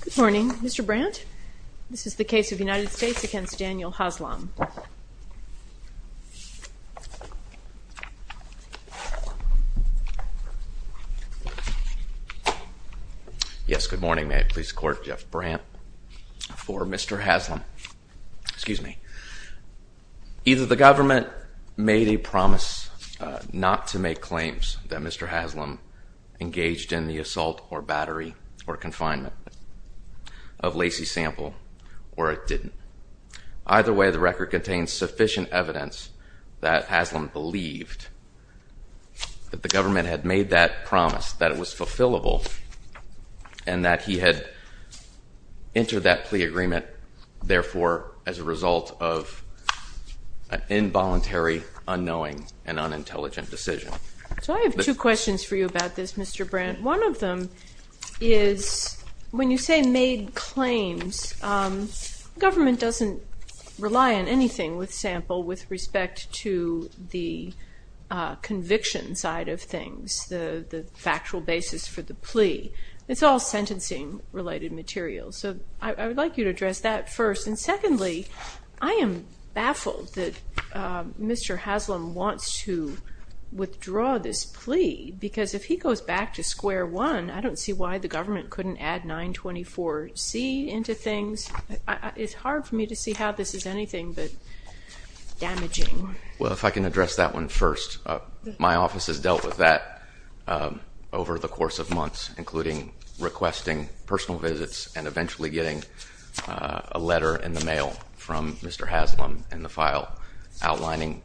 Good morning, Mr. Brandt. This is the case of the United States against Daniel Haslam. Yes, good morning. May I please court Jeff Brandt for Mr. Haslam? Excuse me. Either the government made a promise not to make claims that Mr. Haslam engaged in the assault or battery or confinement of Lacey Sample, or it didn't. Either way, the record contains sufficient evidence that Haslam believed that the government had made that promise, that it was fulfillable, and that he had entered that plea agreement, therefore, as a result of an involuntary, unknowing, and unintelligent decision. So I have two questions for you about this, Mr. Brandt. One of them is, when you say made claims, government doesn't rely on anything with Sample with respect to the conviction side of things, the factual basis for the plea. It's all sentencing-related material. So I would like you to address that first. And secondly, I am baffled that Mr. Haslam wants to withdraw this plea, because if he goes back to square one, I don't see why the government couldn't add 924C into things. It's hard for me to see how this is anything but damaging. Well, if I can address that one first. My office has dealt with that over the course of months, including requesting personal visits and eventually getting a letter in the mail from Mr. Haslam in the file, outlining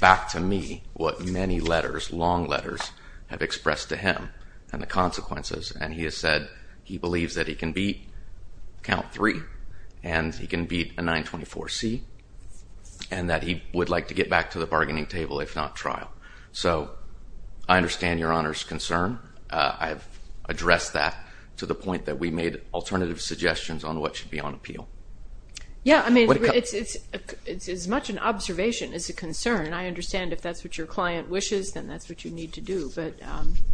back to me what many letters, long letters, have expressed to him and the consequences. And he has said he believes that he can beat count three, and he can beat a 924C, and that he would like to get back to the bargaining table if not trial. So I understand Your Honor's concern. I have addressed that to the point that we made alternative suggestions on what should be on appeal. Yeah, I mean, it's as much an observation as a concern. And I understand if that's what your client wishes, then that's what you need to do. But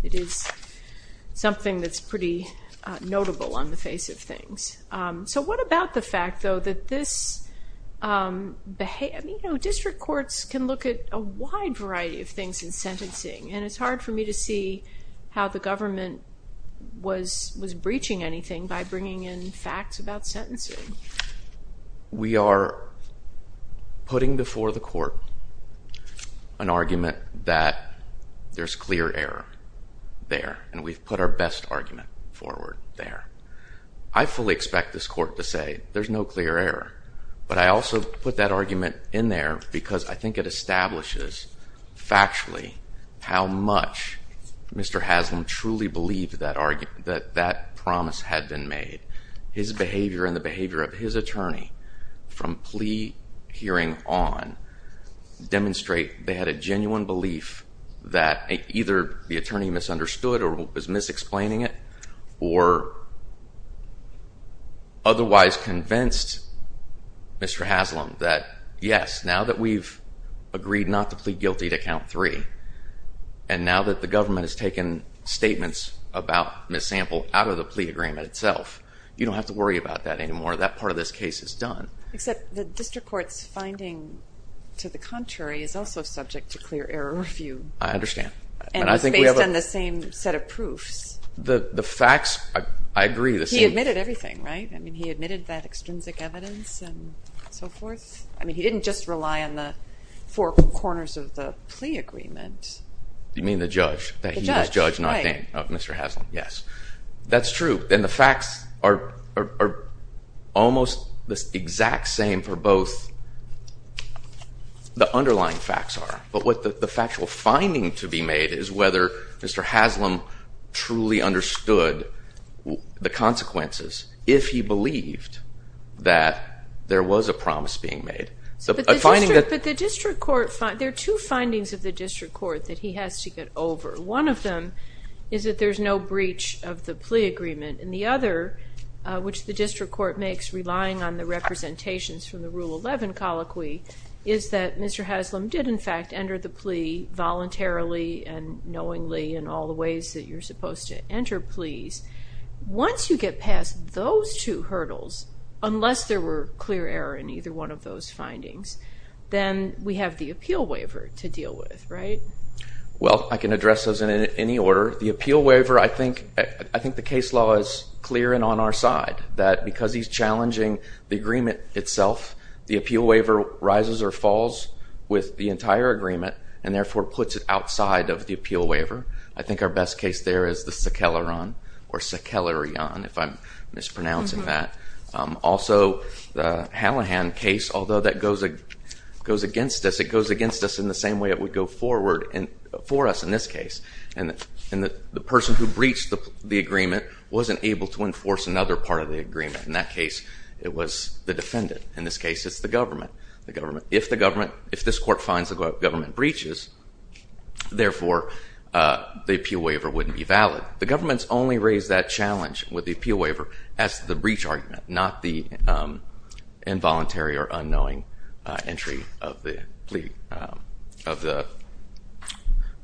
it is something that's pretty notable on the face of things. So what about the fact, though, that district courts can look at a wide variety of things in sentencing? And it's hard for me to see how the government was breaching anything by bringing in facts about sentencing. We are putting before the court an argument that there's clear error there, and we've put our best argument forward there. I fully expect this court to say there's no clear error. But I also put that argument in there because I think it establishes factually how much Mr. Haslam truly believed that that promise had been made. His behavior and the behavior of his attorney from plea hearing on demonstrate they had a genuine belief that either the attorney misunderstood or was mis-explaining it, or otherwise convinced Mr. Haslam that, yes, now that we've agreed not to plead guilty to count three, and now that the government has taken statements about Ms. Sample out of the plea agreement itself, you don't have to worry about that anymore. That part of this case is done. Except the district court's finding to the contrary is also subject to clear error review. I understand. And it's based on the same set of proofs. The facts, I agree. He admitted everything, right? I mean, he admitted that extrinsic evidence and so forth. I mean, he didn't just rely on the four corners of the plea agreement. You mean the judge? The judge, right. He was judge, not him. Mr. Haslam, yes. That's true. And the facts are almost the exact same for both the underlying facts are. But what the factual finding to be made is whether Mr. Haslam truly understood the consequences, if he believed that there was a promise being made. But the district court, there are two findings of the district court that he has to get over. One of them is that there's no breach of the plea agreement, and the other, which the district court makes relying on the representations from the Rule 11 colloquy, is that Mr. Haslam did, in fact, enter the plea voluntarily and knowingly in all the ways that you're supposed to enter pleas. Once you get past those two hurdles, unless there were clear error in either one of those findings, then we have the appeal waiver to deal with, right? Well, I can address those in any order. The appeal waiver, I think the case law is clear and on our side, that because he's challenging the agreement itself, the appeal waiver rises or falls with the entire agreement, and therefore puts it outside of the appeal waiver. I think our best case there is the Saqqelaran or Saqqeliran, if I'm mispronouncing that. Also, the Hallahan case, although that goes against us, it goes against us in the same way it would go forward for us in this case. And the person who breached the agreement wasn't able to enforce another part of the agreement. In that case, it was the defendant. In this case, it's the government. If this court finds the government breaches, therefore, the appeal waiver wouldn't be valid. The government's only raised that challenge with the appeal waiver as the breach argument, not the involuntary or unknowing entry of the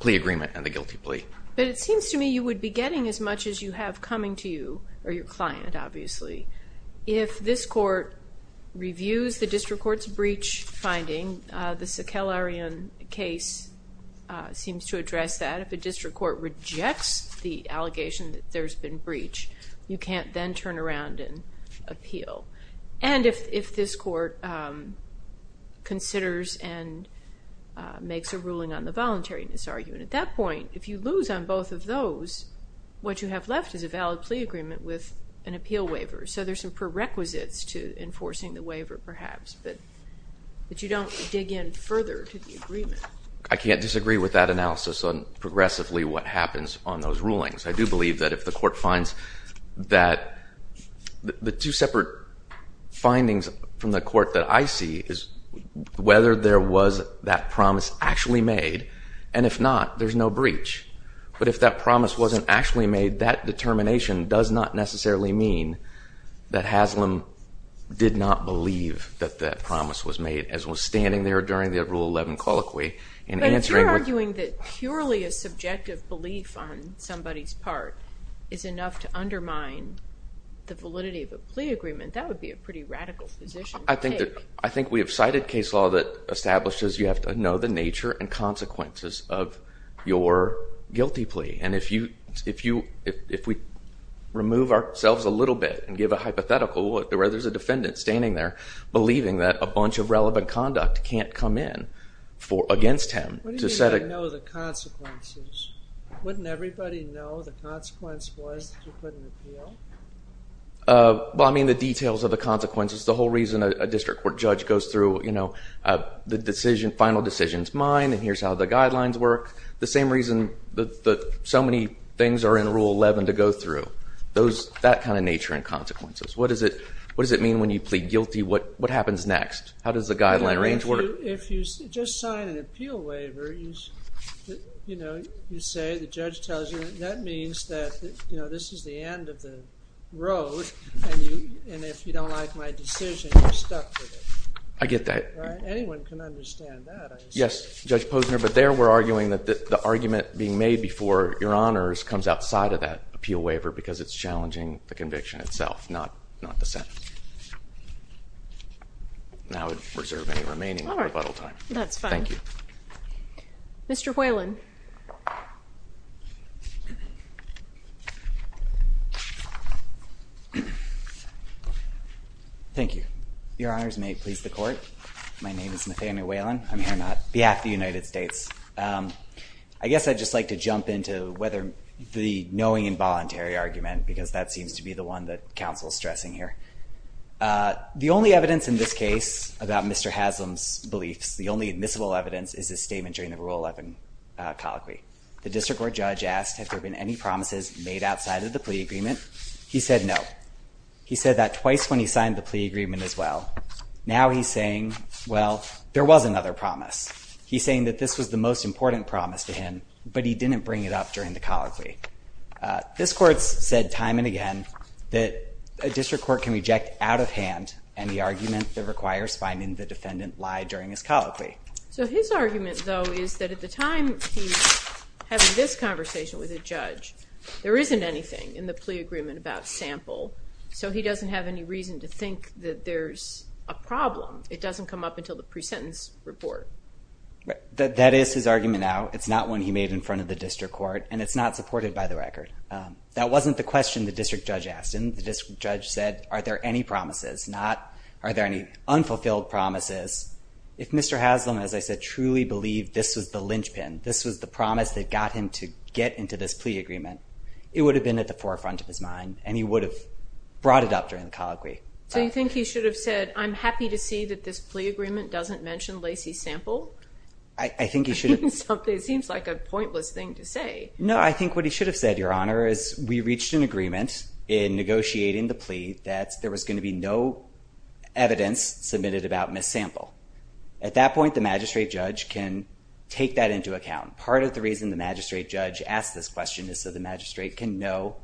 plea agreement and the guilty plea. But it seems to me you would be getting as much as you have coming to you or your client, obviously. If this court reviews the district court's breach finding, the Saqqeliran case seems to address that. If a district court rejects the allegation that there's been breach, you can't then turn around and appeal. And if this court considers and makes a ruling on the voluntariness argument, at that point, if you lose on both of those, what you have left is a valid plea agreement with an appeal waiver. So there's some prerequisites to enforcing the waiver, perhaps, but you don't dig in further to the agreement. I can't disagree with that analysis on progressively what happens on those rulings. I do believe that if the court finds that the two separate findings from the court that I see is whether there was that promise actually made, and if not, there's no breach. But if that promise wasn't actually made, that determination does not necessarily mean that Haslam did not believe that that promise was made, as was standing there during the Rule 11 colloquy in answering what- But if you're arguing that purely a subjective belief on somebody's part is enough to undermine the validity of a plea agreement, that would be a pretty radical position to take. I think we have cited case law that establishes you have to know the nature and consequences of your guilty plea. And if we remove ourselves a little bit and give a hypothetical where there's a defendant standing there believing that a bunch of relevant conduct can't come in against him to set a- What do you mean by know the consequences? Wouldn't everybody know the consequence was to put an appeal? Well, I mean the details of the consequences. The whole reason a district court judge goes through the final decision is mine, and here's how the guidelines work. The same reason that so many things are in Rule 11 to go through. That kind of nature and consequences. What does it mean when you plead guilty? What happens next? How does the guideline range work? If you just sign an appeal waiver, you say the judge tells you, that means that this is the end of the road, and if you don't like my decision, you're stuck with it. I get that. Anyone can understand that. Yes, Judge Posner, but there we're arguing that the argument being made before your honors comes outside of that appeal waiver because it's challenging the conviction itself, not the sentence. Now I would reserve any remaining rebuttal time. That's fine. Thank you. Mr. Whalen. Thank you. Your honors, may it please the court, my name is Nathaniel Whalen. I'm here on behalf of the United States. I guess I'd just like to jump into whether the knowing involuntary argument, because that seems to be the one that counsel is stressing here. The only evidence in this case about Mr. Haslam's beliefs, the only admissible evidence is his statement during the Rule 11 colloquy. The district court judge asked, have there been any promises made outside of the plea agreement? He said no. He said that twice when he signed the plea agreement as well. Now he's saying, well, there was another promise. He's saying that this was the most important promise to him, but he didn't bring it up during the colloquy. This court's said time and again that a district court can reject out of hand any argument that requires finding the defendant lie during his colloquy. So his argument, though, is that at the time he's having this conversation with a judge, there isn't anything in the plea agreement about sample, so he doesn't have any reason to think that there's a problem. It doesn't come up until the pre-sentence report. That is his argument now. It's not one he made in front of the district court, and it's not supported by the record. That wasn't the question the district judge asked him. The district judge said, are there any promises? Are there any unfulfilled promises? If Mr. Haslam, as I said, truly believed this was the linchpin, this was the promise that got him to get into this plea agreement, it would have been at the forefront of his mind, and he would have brought it up during the colloquy. So you think he should have said, I'm happy to see that this plea agreement doesn't mention Lacey's sample? I think he should have. It seems like a pointless thing to say. No, I think what he should have said, Your Honor, is we reached an agreement in negotiating the plea that there was going to be no evidence submitted about Miss Sample. At that point, the magistrate judge can take that into account. Part of the reason the magistrate judge asked this question is so the magistrate can know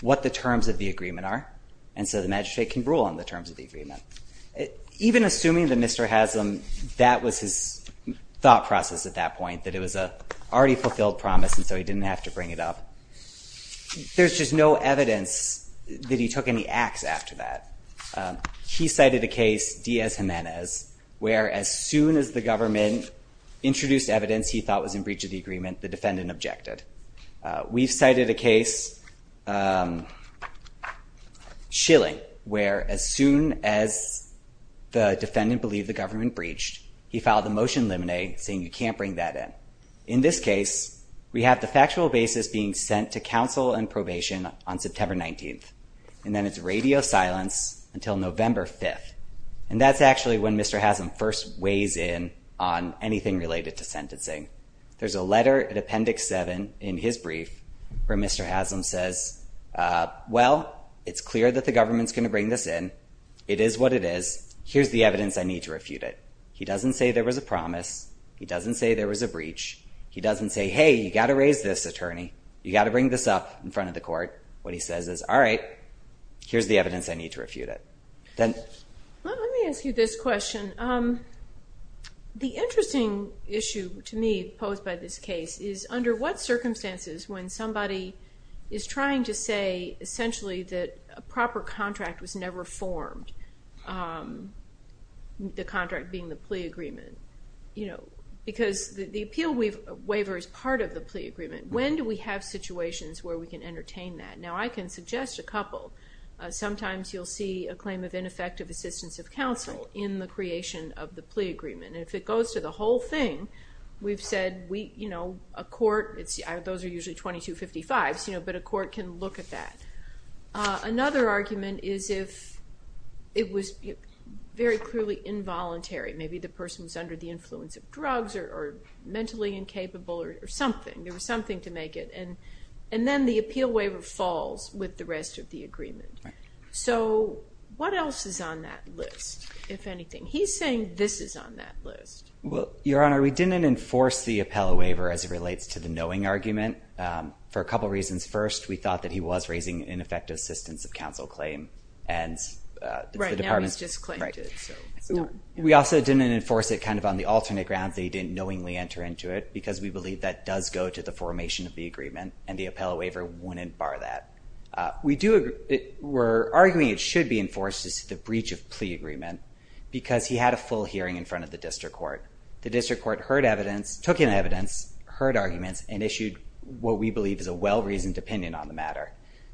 what the terms of the agreement are, and so the magistrate can rule on the terms of the agreement. Even assuming that Mr. Haslam, that was his thought process at that point, that it was an already fulfilled promise and so he didn't have to bring it up. There's just no evidence that he took any acts after that. He cited a case, Diaz-Gimenez, where as soon as the government introduced evidence he thought was in breach of the agreement, the defendant objected. We've cited a case, Schilling, where as soon as the defendant believed the government breached, he filed a motion limine saying you can't bring that in. In this case, we have the factual basis being sent to counsel and probation on September 19th, and then it's radio silence until November 5th. And that's actually when Mr. Haslam first weighs in on anything related to sentencing. There's a letter in Appendix 7 in his brief where Mr. Haslam says, well, it's clear that the government's going to bring this in. It is what it is. Here's the evidence I need to refute it. He doesn't say there was a promise. He doesn't say there was a breach. He doesn't say, hey, you've got to raise this, attorney. You've got to bring this up in front of the court. What he says is, all right, here's the evidence I need to refute it. Let me ask you this question. The interesting issue to me posed by this case is under what circumstances when somebody is trying to say essentially that a proper contract was never formed, the contract being the plea agreement. Because the appeal waiver is part of the plea agreement. When do we have situations where we can entertain that? Now, I can suggest a couple. Sometimes you'll see a claim of ineffective assistance of counsel in the creation of the plea agreement. If it goes to the whole thing, we've said a court, those are usually 2255s, but a court can look at that. Another argument is if it was very clearly involuntary. Maybe the person was under the influence of drugs or mentally incapable or something. There was something to make it. And then the appeal waiver falls with the rest of the agreement. So what else is on that list, if anything? He's saying this is on that list. Well, Your Honor, we didn't enforce the appeal waiver as it relates to the knowing argument for a couple reasons. First, we thought that he was raising ineffective assistance of counsel claim. Right now he's just claimed it. We also didn't enforce it kind of on the alternate grounds that he didn't knowingly enter into it because we believe that does go to the formation of the agreement, and the appeal waiver wouldn't bar that. We're arguing it should be enforced as the breach of plea agreement because he had a full hearing in front of the district court. The district court heard evidence, took in evidence, heard arguments, and issued what we believe is a well-reasoned opinion on the matter.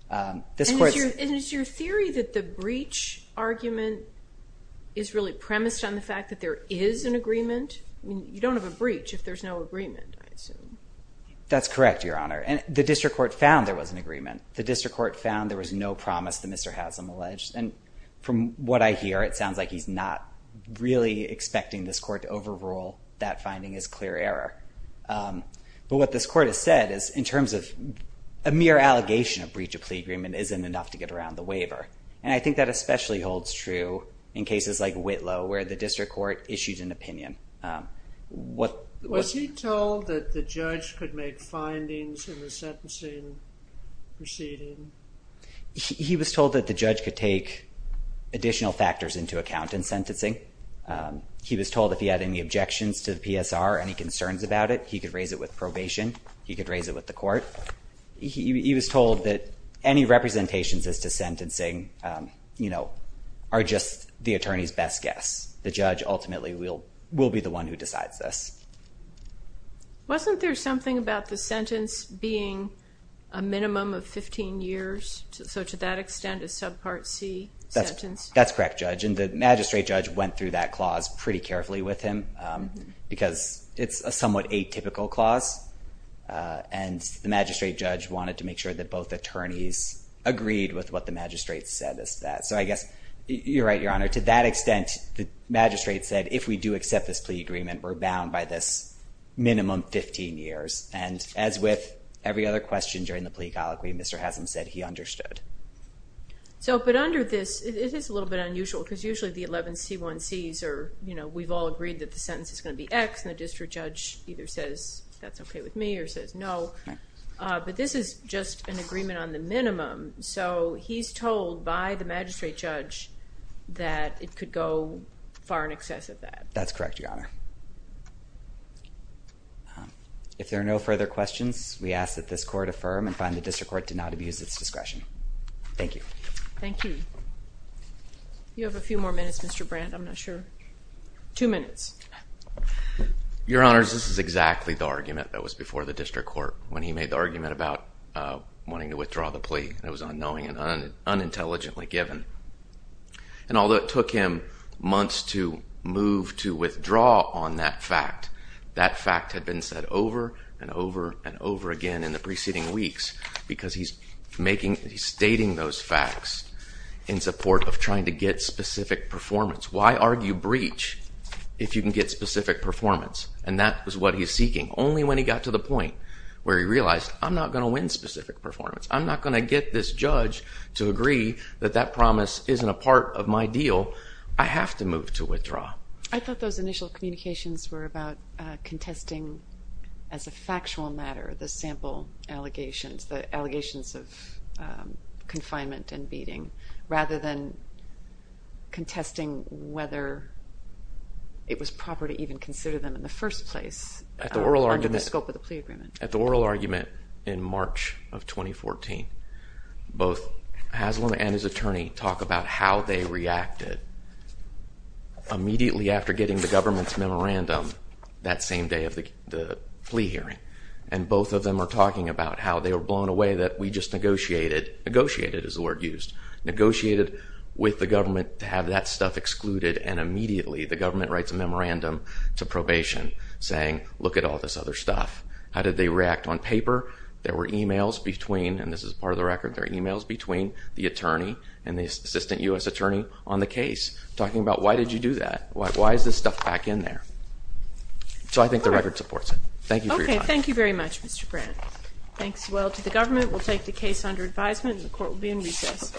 And is your theory that the breach argument is really premised on the fact that there is an agreement? You don't have a breach if there's no agreement, I assume. That's correct, Your Honor. The district court found there was an agreement. The district court found there was no promise that Mr. Haslam alleged. And from what I hear, it sounds like he's not really expecting this court to overrule that finding as clear error. But what this court has said is in terms of a mere allegation of breach of plea agreement isn't enough to get around the waiver. And I think that especially holds true in cases like Whitlow where the district court issued an opinion. Was he told that the judge could make findings in the sentencing proceeding? He was told that the judge could take additional factors into account in sentencing. He was told if he had any objections to the PSR, any concerns about it, he could raise it with probation. He could raise it with the court. He was told that any representations as to sentencing are just the attorney's best guess. The judge ultimately will be the one who decides this. Wasn't there something about the sentence being a minimum of 15 years? So to that extent, a subpart C sentence? That's correct, Judge. And the magistrate judge went through that clause pretty carefully with him because it's a somewhat atypical clause. And the magistrate judge wanted to make sure that both attorneys agreed with what the magistrate said as to that. So I guess you're right, Your Honor. To that extent, the magistrate said if we do accept this plea agreement, we're bound by this minimum 15 years. And as with every other question during the plea colloquy, Mr. Haslam said he understood. So but under this, it is a little bit unusual because usually the 11 C1Cs are, you know, we've all agreed that the sentence is going to be X and the district judge either says that's okay with me or says no. But this is just an agreement on the minimum. So he's told by the magistrate judge that it could go far in excess of that. That's correct, Your Honor. If there are no further questions, we ask that this court affirm and find the district court did not abuse its discretion. Thank you. Thank you. You have a few more minutes, Mr. Brandt. I'm not sure. Two minutes. Your Honors, this is exactly the argument that was before the district court when he made the argument about wanting to withdraw the plea. It was unknowing and unintelligently given. And although it took him months to move to withdraw on that fact, that fact had been said over and over and over again in the preceding weeks because he's stating those facts in support of trying to get specific performance. Why argue breach if you can get specific performance? And that was what he was seeking only when he got to the point where he realized I'm not going to win specific performance. I'm not going to get this judge to agree that that promise isn't a part of my deal. I have to move to withdraw. I thought those initial communications were about contesting as a factual matter the sample allegations, the allegations of confinement and beating, rather than contesting whether it was proper to even consider them in the first place under the scope of the plea agreement. At the oral argument in March of 2014, both Haslam and his attorney talk about how they reacted immediately after getting the government's memorandum that same day of the plea hearing. And both of them are talking about how they were blown away that we just negotiated, negotiated is the word used, negotiated with the government to have that stuff excluded and immediately the government writes a memorandum to probation saying look at all this other stuff. How did they react on paper? There were emails between, and this is part of the record, there were emails between the attorney and the assistant U.S. attorney on the case talking about why did you do that? Why is this stuff back in there? So I think the record supports it. Thank you for your time. Okay, thank you very much Mr. Brandt. Thanks as well to the government. We'll take the case under advisement and the court will be in recess.